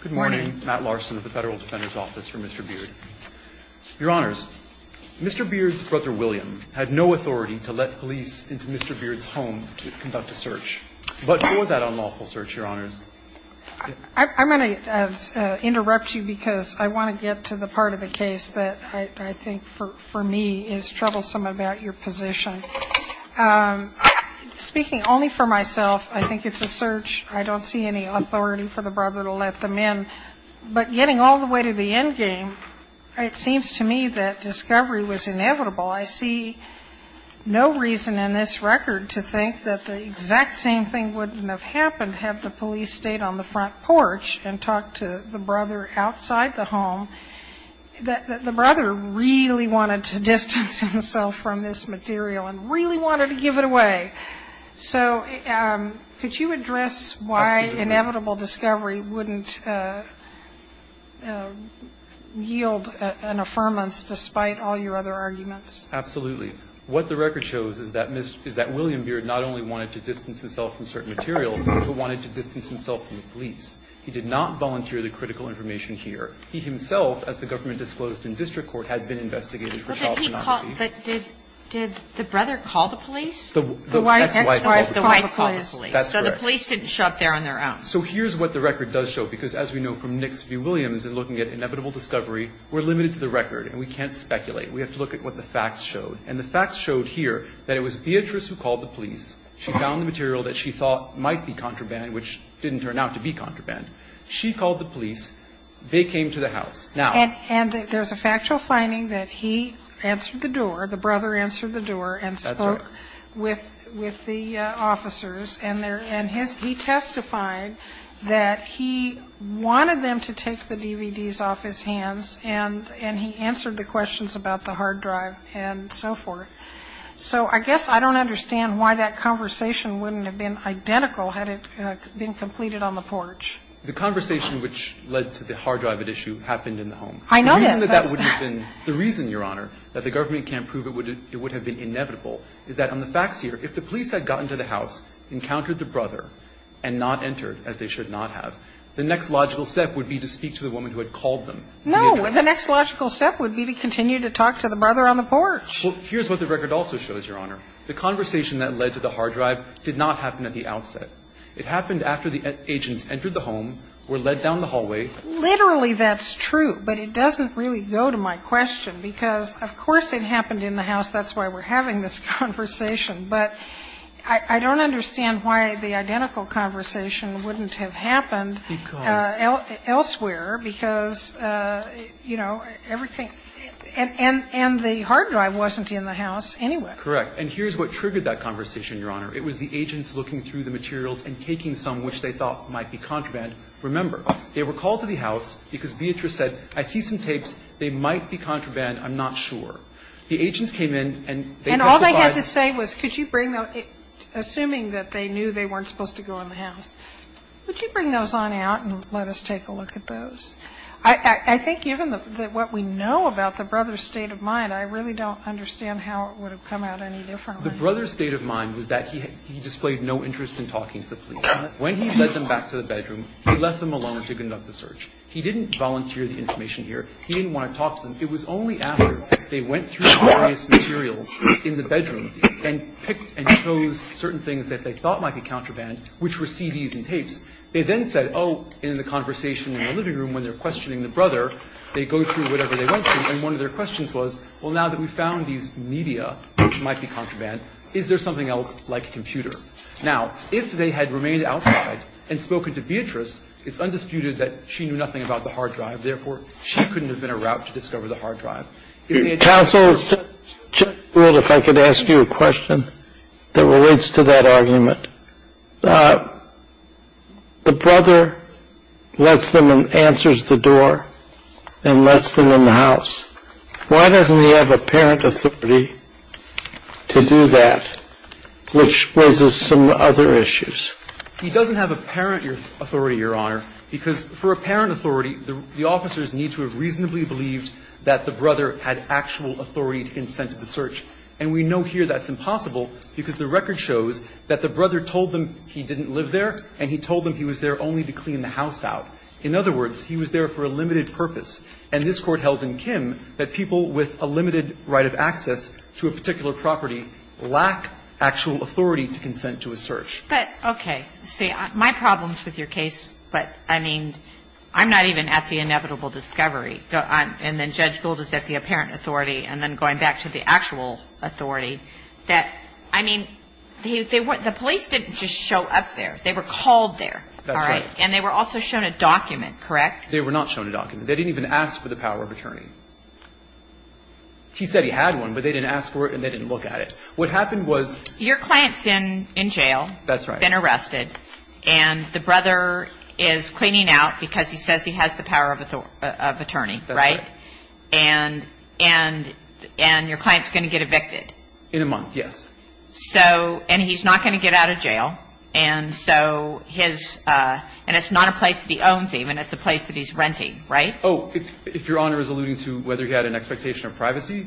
Good morning, Matt Larson of the Federal Defender's Office for Mr. Beard. Your Honors, Mr. Beard's brother, William, had no authority to let police into Mr. Beard's home to conduct a search. But for that unlawful search, Your Honors, I'm going to interrupt you because I want to get to the part of the case that I think, for me, is troublesome about your position. Speaking only for myself, I think it's a search. I don't see any authority for the brother to let them in. But getting all the way to the end game, it seems to me that discovery was inevitable. I see no reason in this record to think that the exact same thing wouldn't have happened, have the police stayed on the front porch and talked to the brother outside the home. The brother really wanted to distance himself from this material and really wanted to give it away. So could you address why inevitable discovery wouldn't yield an affirmance despite all your other arguments? Absolutely. What the record shows is that William Beard not only wanted to distance himself from certain materials, but wanted to distance himself from the police. He did not volunteer the critical information here. He himself, as the government disclosed in district court, had been investigated for child pornography. But did the brother call the police? The wife called the police. So the police didn't show up there on their own. So here's what the record does show, because as we know from Nix v. Williams and looking at inevitable discovery, we're limited to the record, and we can't speculate. We have to look at what the facts showed. And the facts showed here that it was Beatrice who called the police. She found the material that she thought might be contraband, which didn't turn out to be contraband. She called the police. They came to the house. And there's a factual finding that he answered the door, the brother answered the door, and spoke with the officers. And he testified that he wanted them to take the DVDs off his hands, and he answered the questions about the hard drive and so forth. So I guess I don't understand why that conversation wouldn't have been identical had it been completed on the porch. The conversation which led to the hard drive at issue happened in the home. I know that. The reason that that would have been the reason, Your Honor, that the government can't prove it would have been inevitable is that on the facts here, if the police had gotten to the house, encountered the brother, and not entered, as they should not have, the next logical step would be to speak to the woman who had called them. No. The next logical step would be to continue to talk to the brother on the porch. Well, here's what the record also shows, Your Honor. The conversation that led to the hard drive did not happen at the outset. It happened after the agents entered the home, were led down the hallway. Literally, that's true, but it doesn't really go to my question, because, of course, it happened in the house. That's why we're having this conversation. But I don't understand why the identical conversation wouldn't have happened elsewhere, because, you know, everything and the hard drive wasn't in the house anyway. Correct. And here's what triggered that conversation, Your Honor. It was the agents looking through the materials and taking some which they thought might be contraband. Remember, they were called to the house because Beatrice said, I see some tapes. They might be contraband. I'm not sure. The agents came in and they testified. And all they had to say was, could you bring the assuming that they knew they weren't supposed to go in the house. Would you bring those on out and let us take a look at those? I think even what we know about the brother's state of mind, I really don't understand how it would have come out any differently. The brother's state of mind was that he displayed no interest in talking to the police. When he led them back to the bedroom, he left them alone to conduct the search. He didn't volunteer the information here. He didn't want to talk to them. It was only after they went through the various materials in the bedroom and picked and chose certain things that they thought might be contraband, which were CDs and tapes. They then said, oh, in the conversation in the living room when they're questioning the brother, they go through whatever they went through, and one of their questions was, well, now that we found these media which might be contraband, is there something else like a computer? Now, if they had remained outside and spoken to Beatrice, it's undisputed that she knew nothing about the hard drive. Therefore, she couldn't have been a route to discover the hard drive. Counsel, if I could ask you a question that relates to that argument. The brother lets them and answers the door and lets them in the house. Why doesn't he have apparent authority to do that, which raises some other issues? He doesn't have apparent authority, Your Honor, because for apparent authority, the officers need to have reasonably believed that the brother had actual authority to consent to the search. And we know here that's impossible because the record shows that the brother told them he didn't live there and he told them he was there only to clean the house out. In other words, he was there for a limited purpose. And this Court held in Kim that people with a limited right of access to a particular property lack actual authority to consent to a search. But, okay. See, my problem is with your case, but, I mean, I'm not even at the inevitable discovery, and then Judge Gould is at the apparent authority, and then going back to the actual authority, that, I mean, the police didn't just show up there. They were called there. That's right. And they were also shown a document, correct? They were not shown a document. They didn't even ask for the power of attorney. He said he had one, but they didn't ask for it and they didn't look at it. What happened was Your client's in jail. That's right. Been arrested. And the brother is cleaning out because he says he has the power of attorney, right? That's right. And your client's going to get evicted. In a month, yes. So, and he's not going to get out of jail. And so his, and it's not a place that he owns even. It's a place that he's renting, right? Oh, if Your Honor is alluding to whether he had an expectation of privacy,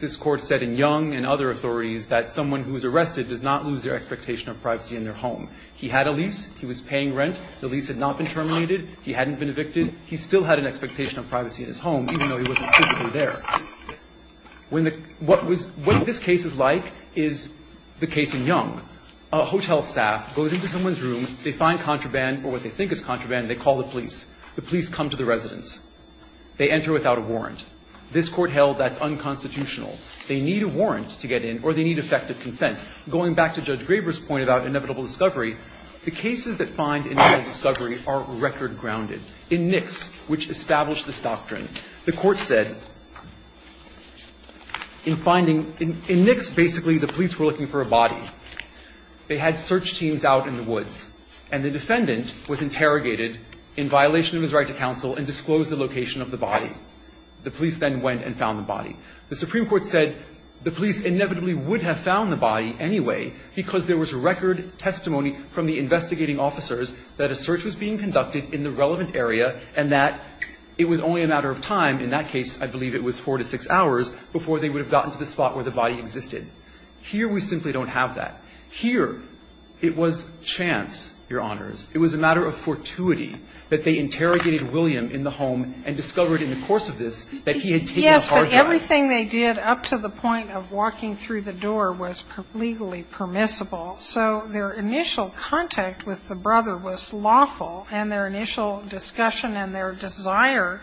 this court said in Young and other authorities that someone who was arrested does not lose their expectation of privacy in their home. He had a lease. He was paying rent. The lease had not been terminated. He hadn't been evicted. He still had an expectation of privacy in his home, even though he wasn't physically there. When the, what was, what this case is like is the case in Young. A hotel staff goes into someone's room. They find contraband, or what they think is contraband. They call the police. The police come to the residence. They enter without a warrant. This Court held that's unconstitutional. They need a warrant to get in, or they need effective consent. Going back to Judge Graber's point about inevitable discovery, the cases that find inevitable discovery are record grounded. In Nix, which established this doctrine, the Court said in finding, in Nix, basically, the police were looking for a body. They had search teams out in the woods. And the defendant was interrogated in violation of his right to counsel and disclosed the location of the body. The police then went and found the body. The Supreme Court said the police inevitably would have found the body anyway because there was record testimony from the investigating officers that a search was being conducted in the relevant area and that it was only a matter of time, in that case, I believe it was four to six hours, before they would have gotten to the spot where the body existed. Here, we simply don't have that. Here, it was chance, Your Honors. It was a matter of fortuity that they interrogated William in the home and discovered in the course of this that he had taken a hard line. Yes, but everything they did up to the point of walking through the door was legally permissible. So their initial contact with the brother was lawful, and their initial discussion and their desire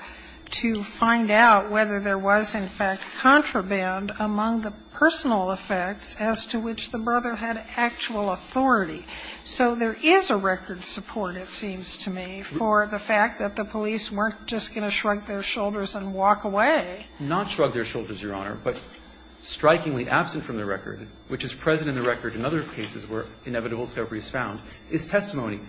to find out whether there was, in fact, contraband among the personal effects as to which the brother had actual authority. So there is a record support, it seems to me, for the fact that the police weren't just going to shrug their shoulders and walk away. Not shrug their shoulders, Your Honor, but strikingly absent from the record, which is present in the record in other cases where inevitable discovery is found, is testimony.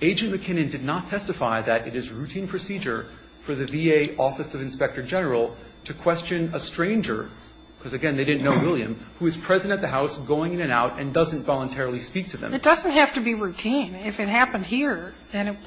Agent McKinnon did not testify that it is routine procedure for the VA Office of Inspector General to question a stranger, because, again, they didn't know William, who is present at the house, going in and out, and doesn't voluntarily speak to them. It doesn't have to be routine. If it happened here, then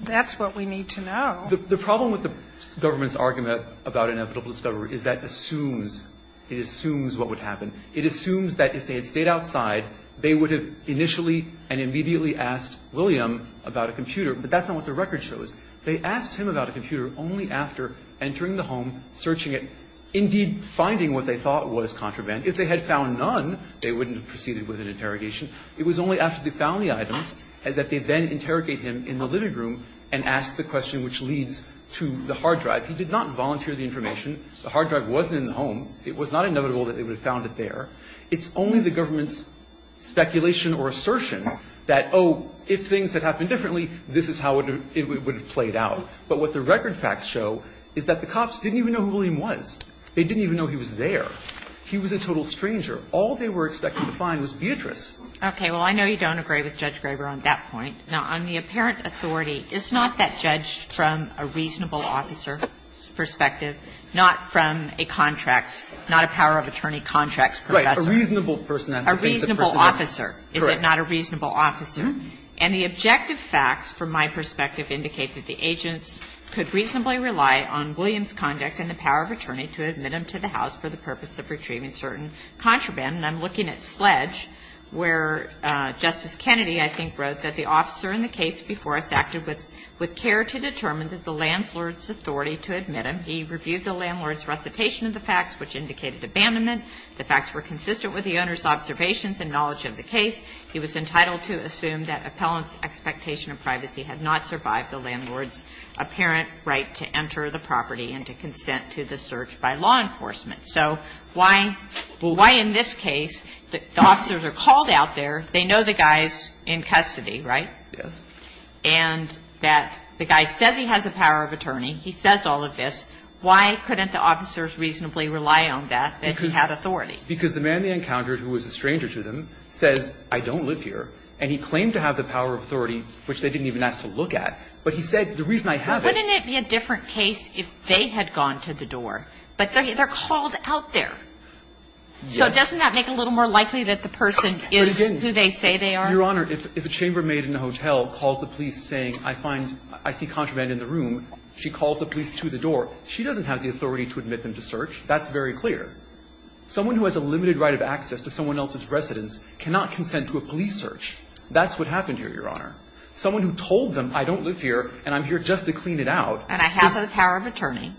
that's what we need to know. The problem with the government's argument about inevitable discovery is that it assumes what would happen. It assumes that if they had stayed outside, they would have initially and immediately asked William about a computer, but that's not what the record shows. They asked him about a computer only after entering the home, searching it, indeed finding what they thought was contraband. If they had found none, they wouldn't have proceeded with an interrogation. It was only after they found the items that they then interrogate him in the living room and ask the question which leads to the hard drive. He did not volunteer the information. The hard drive wasn't in the home. It was not inevitable that they would have found it there. It's only the government's speculation or assertion that, oh, if things had happened differently, this is how it would have played out. But what the record facts show is that the cops didn't even know who William was. They didn't even know he was there. He was a total stranger. All they were expecting to find was Beatrice. Okay. Well, I know you don't agree with Judge Graber on that point. Now, on the apparent authority, is not that judged from a reasonable officer's perspective, not from a contract's, not a power of attorney contract's professor? Right. A reasonable person has to face a person that's correct. A reasonable officer. Is it not a reasonable officer? And the objective facts, from my perspective, indicate that the agents could reasonably rely on William's conduct and the power of attorney to admit him to the house for the purpose of retrieving certain contraband. And I'm looking at Sledge, where Justice Kennedy, I think, wrote that the officer in the case before us acted with care to determine that the landlord's authority to admit him. He reviewed the landlord's recitation of the facts, which indicated abandonment. The facts were consistent with the owner's observations and knowledge of the case. He was entitled to assume that appellant's expectation of privacy had not survived the landlord's apparent right to enter the property and to consent to the search by law enforcement. So why why in this case the officers are called out there, they know the guy's in custody, right? Yes. And that the guy says he has a power of attorney, he says all of this. Why couldn't the officers reasonably rely on that, that he had authority? Because the man they encountered, who was a stranger to them, says, I don't live here, and he claimed to have the power of authority, which they didn't even ask to look at, but he said, the reason I have it. Wouldn't it be a different case if they had gone to the door, but they're called out there? Yes. So doesn't that make it a little more likely that the person is who they say they are? Your Honor, if a chambermaid in a hotel calls the police saying, I find, I see contraband in the room, she calls the police to the door, she doesn't have the authority to admit them to search. That's very clear. Someone who has a limited right of access to someone else's residence cannot consent to a police search. That's what happened here, Your Honor. Someone who told them, I don't live here, and I'm here just to clean it out. And I have the power of attorney.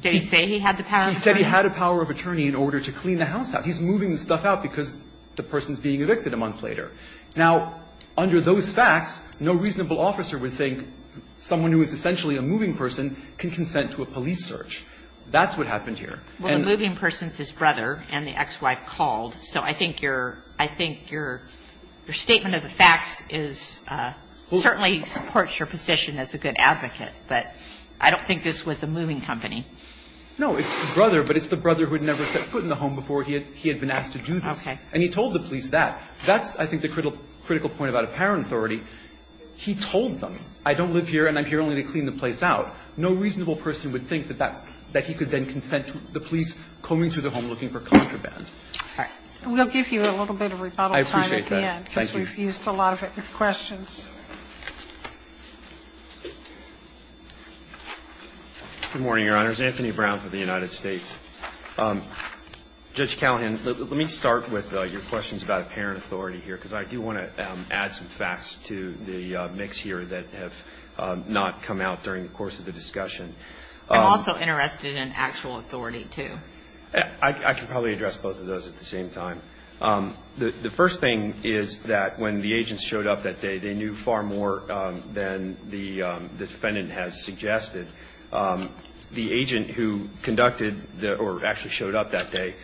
Did he say he had the power of attorney? He said he had a power of attorney in order to clean the house out. He's moving the stuff out because the person's being evicted a month later. Now, under those facts, no reasonable officer would think someone who is essentially a moving person can consent to a police search. That's what happened here. Well, the moving person's his brother and the ex-wife called, so I think your statement of the facts is certainly supports your position as a good advocate, but I don't think this was a moving company. No, it's the brother, but it's the brother who had never set foot in the home before he had been asked to do this. And he told the police that. That's, I think, the critical point about apparent authority. He told them, I don't live here and I'm here only to clean the place out. No reasonable person would think that he could then consent to the police coming to the home looking for contraband. Okay. We'll give you a little bit of rebuttal time at the end because we've used a lot of it with questions. Good morning, Your Honors. Anthony Brown for the United States. Judge Callahan, let me start with your questions about apparent authority here because I do want to add some facts to the mix here that have not come out during the course of the discussion. I'm also interested in actual authority, too. I can probably address both of those at the same time. The first thing is that when the agents showed up that day, they knew far more than the defendant has suggested. The agent who conducted or actually showed up that day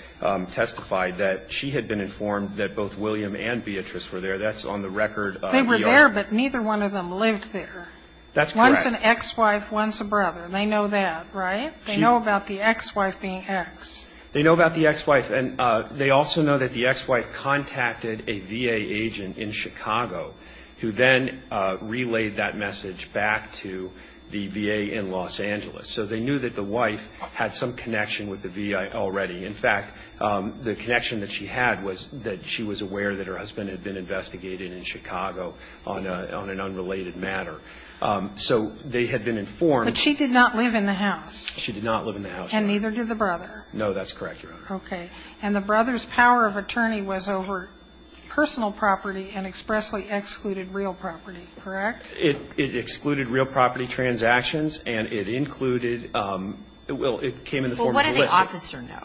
testified that she had been informed that both William and Beatrice were there. That's on the record. They were there, but neither one of them lived there. That's correct. If that's an ex-wife, when's a brother? They know that, right? They know about the ex-wife being ex. They know about the ex-wife. And they also know that the ex-wife contacted a VA agent in Chicago who then relayed that message back to the VA in Los Angeles. So they knew that the wife had some connection with the VA already. In fact, the connection that she had was that she was aware that her husband had been investigated in Chicago on an unrelated matter. So they had been informed. But she did not live in the house. She did not live in the house. And neither did the brother. No, that's correct, Your Honor. Okay. And the brother's power of attorney was over personal property and expressly excluded real property, correct? It excluded real property transactions, and it included the real ---- it came in the form of a list. Well, what did the officer know?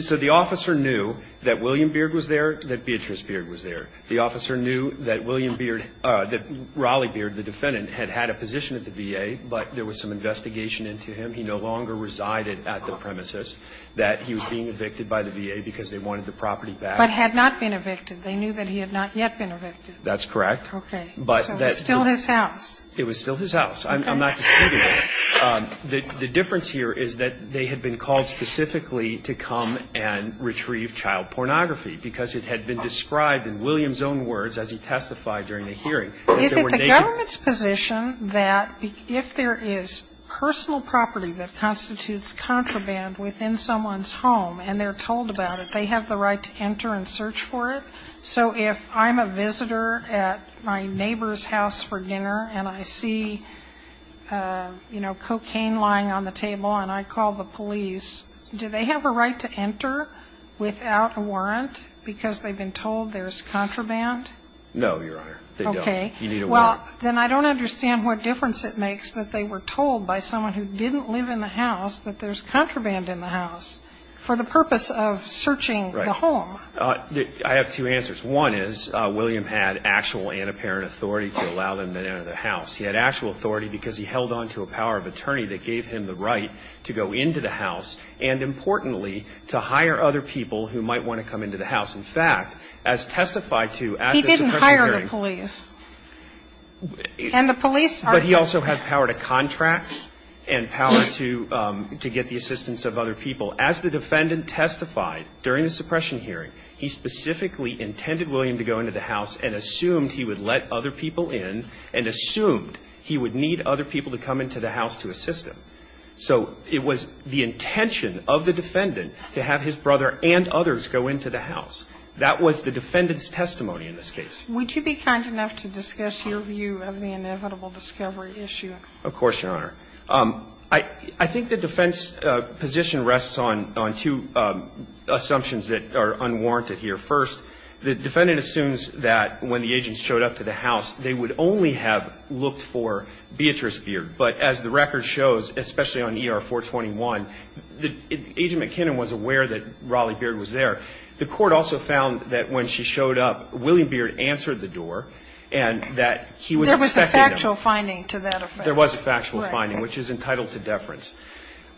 So the officer knew that William Beard was there, that Beatrice Beard was there. The officer knew that William Beard ---- that Raleigh Beard, the defendant, had had a position at the VA, but there was some investigation into him. He no longer resided at the premises, that he was being evicted by the VA because they wanted the property back. But had not been evicted. They knew that he had not yet been evicted. That's correct. Okay. But that's still his house. It was still his house. I'm not disputing that. The difference here is that they had been called specifically to come and retrieve child pornography because it had been described in William's own words as he testified during the hearing. Is it the government's position that if there is personal property that constitutes contraband within someone's home, and they're told about it, they have the right to enter and search for it? So if I'm a visitor at my neighbor's house for dinner, and I see, you know, cocaine lying on the table, and I call the police, do they have a right to enter without a warrant because they've been told there's contraband? No, Your Honor. They don't. Okay. You need a warrant. Well, then I don't understand what difference it makes that they were told by someone who didn't live in the house that there's contraband in the house for the purpose of searching the home. I have two answers. One is William had actual and apparent authority to allow them to enter the house. He had actual authority because he held on to a power of attorney that gave him the might want to come into the house. In fact, as testified to at the suppression hearing He didn't hire the police, and the police are But he also had power to contract and power to get the assistance of other people. As the defendant testified during the suppression hearing, he specifically intended William to go into the house and assumed he would let other people in and assumed he would need other people to come into the house to assist him. So it was the intention of the defendant to have his brother and others go into the house. That was the defendant's testimony in this case. Would you be kind enough to discuss your view of the inevitable discovery issue? Of course, Your Honor. I think the defense position rests on two assumptions that are unwarranted here. First, the defendant assumes that when the agents showed up to the house, they would only have looked for Beatrice Beard. But as the record shows, especially on ER-421, Agent McKinnon was aware that Raleigh Beard was there. The court also found that when she showed up, William Beard answered the door and that he was accepting them. There was a factual finding to that offense. There was a factual finding, which is entitled to deference.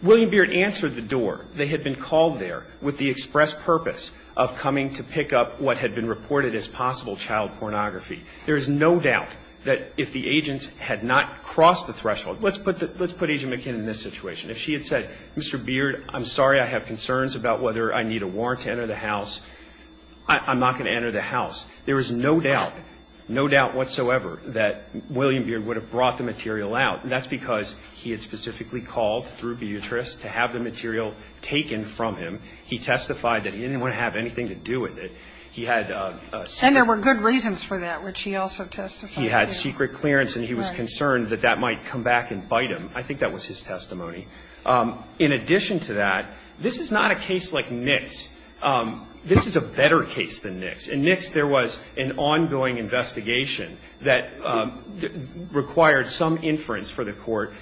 William Beard answered the door. They had been called there with the express purpose of coming to pick up what had been reported as possible child pornography. There is no doubt that if the agents had not crossed the threshold, let's put Agent McKinnon in this situation. If she had said, Mr. Beard, I'm sorry, I have concerns about whether I need a warrant to enter the house, I'm not going to enter the house. There is no doubt, no doubt whatsoever that William Beard would have brought the material out. And that's because he had specifically called through Beatrice to have the material taken from him. He testified that he didn't want to have anything to do with it. He had a separate reason. And he had a defense for that, which he also testified to. He had secret clearance and he was concerned that that might come back and bite him. I think that was his testimony. In addition to that, this is not a case like Nix. This is a better case than Nix. In Nix there was an ongoing investigation that required some inference for the Court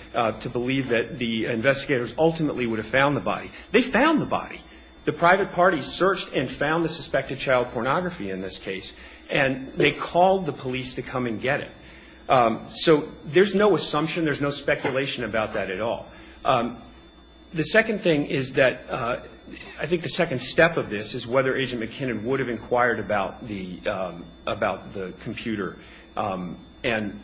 to believe that the investigators ultimately would have found the body. They found the body. The private party searched and found the suspected child pornography in this case. And they called the police to come and get it. So there's no assumption, there's no speculation about that at all. The second thing is that, I think the second step of this is whether Agent McKinnon would have inquired about the computer. And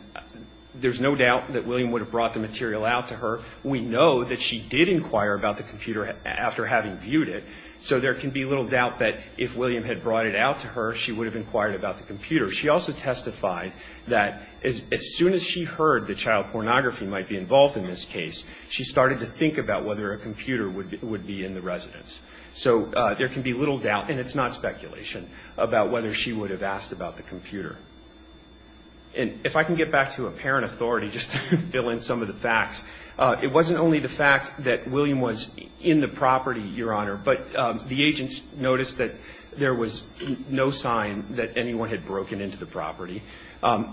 there's no doubt that William would have brought the material out to her. We know that she did inquire about the computer after having viewed it. So there can be little doubt that if William had brought it out to her, she would have inquired about the computer. She also testified that as soon as she heard that child pornography might be involved in this case, she started to think about whether a computer would be in the residence. So there can be little doubt, and it's not speculation, about whether she would have asked about the computer. And if I can get back to apparent authority, just to fill in some of the facts, it wasn't only the fact that William was in the property, Your Honor, but the agents noticed that there was no sign that anyone had broken into the property. Judge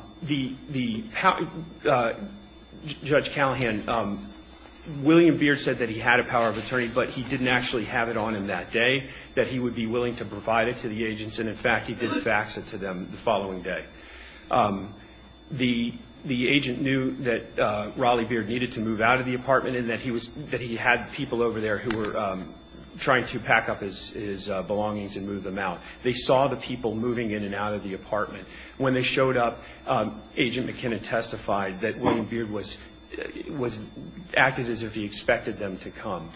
Callahan, William Beard said that he had a power of attorney, but he didn't actually have it on him that day, that he would be willing to provide it to the agents. And in fact, he did fax it to them the following day. The agent knew that Raleigh Beard needed to move out of the apartment, and that he had people over there who were trying to pack up his belongings and move them out. They saw the people moving in and out of the apartment. When they showed up, Agent McKinnon testified that William Beard acted as if he expected them to come.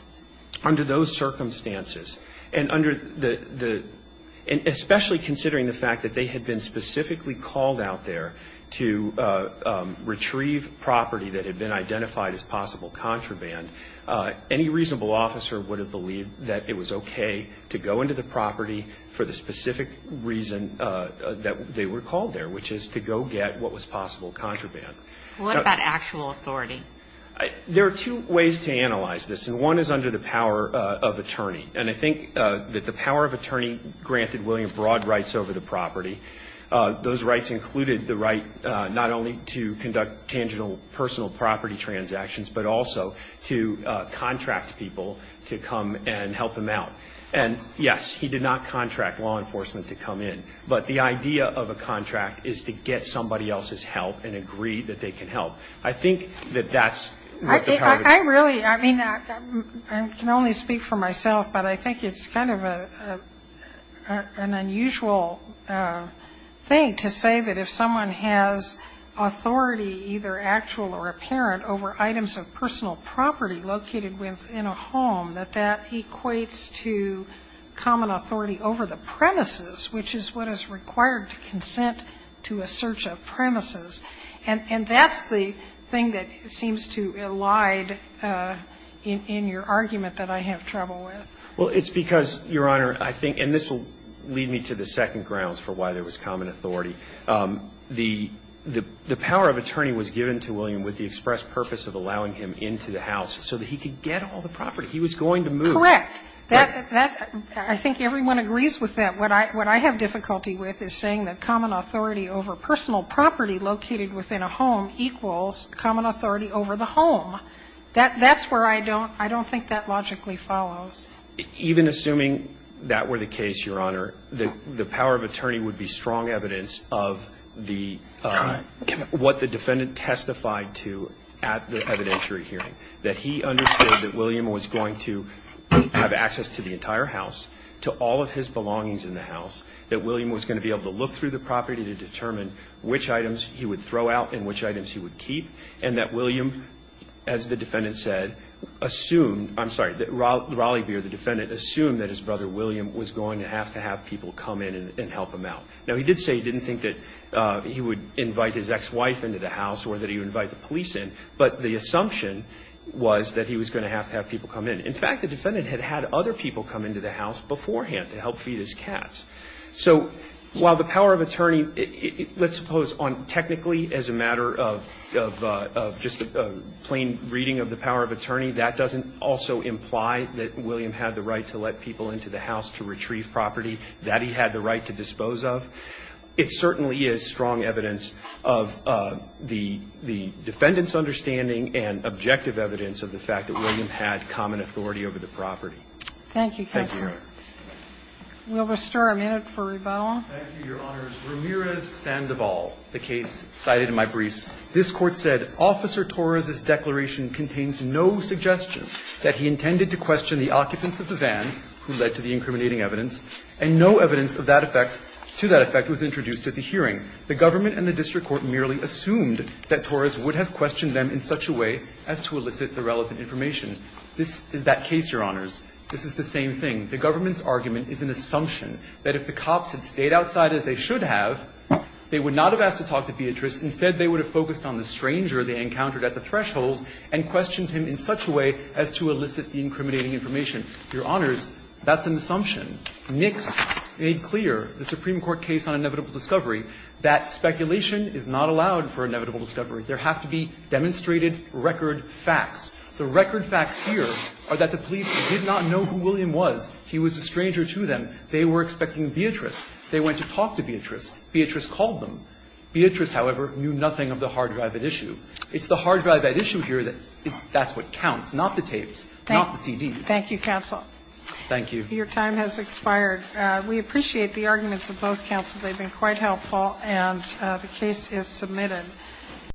Under those circumstances, and especially considering the fact that they had been specifically called out there to retrieve property that had been identified as possible contraband, any reasonable officer would have believed that it was okay to go into the property for the specific reason that they were called there, which is to go get what was possible contraband. What about actual authority? There are two ways to analyze this, and one is under the power of attorney. And I think that the power of attorney granted William broad rights over the property. Those rights included the right not only to conduct tangible personal property transactions, but also to contract people to come and help him out. And yes, he did not contract law enforcement to come in. But the idea of a contract is to get somebody else's help and agree that they can help. I think that that's the power of attorney. I really, I mean, I can only speak for myself, but I think it's kind of an unusual thing to say that if someone has authority, either actual or apparent, over items of personal property located within a home, that that equates to common authority over the premises, which is what is required to consent to a search of premises. And that's the thing that seems to elide in your argument that I have trouble with. Well, it's because, Your Honor, I think, and this will lead me to the second grounds for why there was common authority. The power of attorney was given to William with the express purpose of allowing him into the house so that he could get all the property. He was going to move. Correct. That, I think everyone agrees with that. What I have difficulty with is saying that common authority over personal property located within a home equals common authority over the home. That's where I don't think that logically follows. Even assuming that were the case, Your Honor, the power of attorney would be strong evidence of the, what the defendant testified to at the evidentiary hearing, that he understood that William was going to have access to the entire house, to all of his belongings in the house, that William was going to be able to look through the property to determine which items he would throw out and which items he would keep. And that William, as the defendant said, assumed, I'm sorry, that Raleigh Beer, the defendant, assumed that his brother William was going to have to have people come in and help him out. Now, he did say he didn't think that he would invite his ex-wife into the house or that he would invite the police in. But the assumption was that he was going to have to have people come in. In fact, the defendant had had other people come into the house beforehand to help feed his cats. So while the power of attorney, let's suppose on technically as a matter of just a plain reading of the power of attorney, that doesn't also imply that William had the right to let people into the house to retrieve property that he had the right to dispose of. It certainly is strong evidence of the defendant's understanding and objective evidence of the fact that William had common authority over the property. Thank you, counsel. We'll restore a minute for rebuttal. Thank you, Your Honors. Ramirez-Sandoval, the case cited in my briefs, this Court said, Officer Torres's declaration contains no suggestion that he intended to question the occupants of the van who led to the incriminating evidence, and no evidence of that effect to that effect was introduced at the hearing. The government and the district court merely assumed that Torres would have questioned them in such a way as to elicit the relevant information. This is that case, Your Honors. This is the same thing. The government's argument is an assumption that if the cops had stayed outside as they should have, they would not have asked to talk to Beatrice. Instead, they would have focused on the stranger they encountered at the threshold and questioned him in such a way as to elicit the incriminating information. Your Honors, that's an assumption. Nix made clear, the Supreme Court case on inevitable discovery, that speculation is not allowed for inevitable discovery. There have to be demonstrated record facts. The record facts here are that the police did not know who William was. He was a stranger to them. They were expecting Beatrice. They went to talk to Beatrice. Beatrice called them. Beatrice, however, knew nothing of the hard drive at issue. It's the hard drive at issue here that's what counts, not the tapes, not the CDs. Thank you, counsel. Thank you. Your time has expired. We appreciate the arguments of both counsels. They've been quite helpful, and the case is submitted.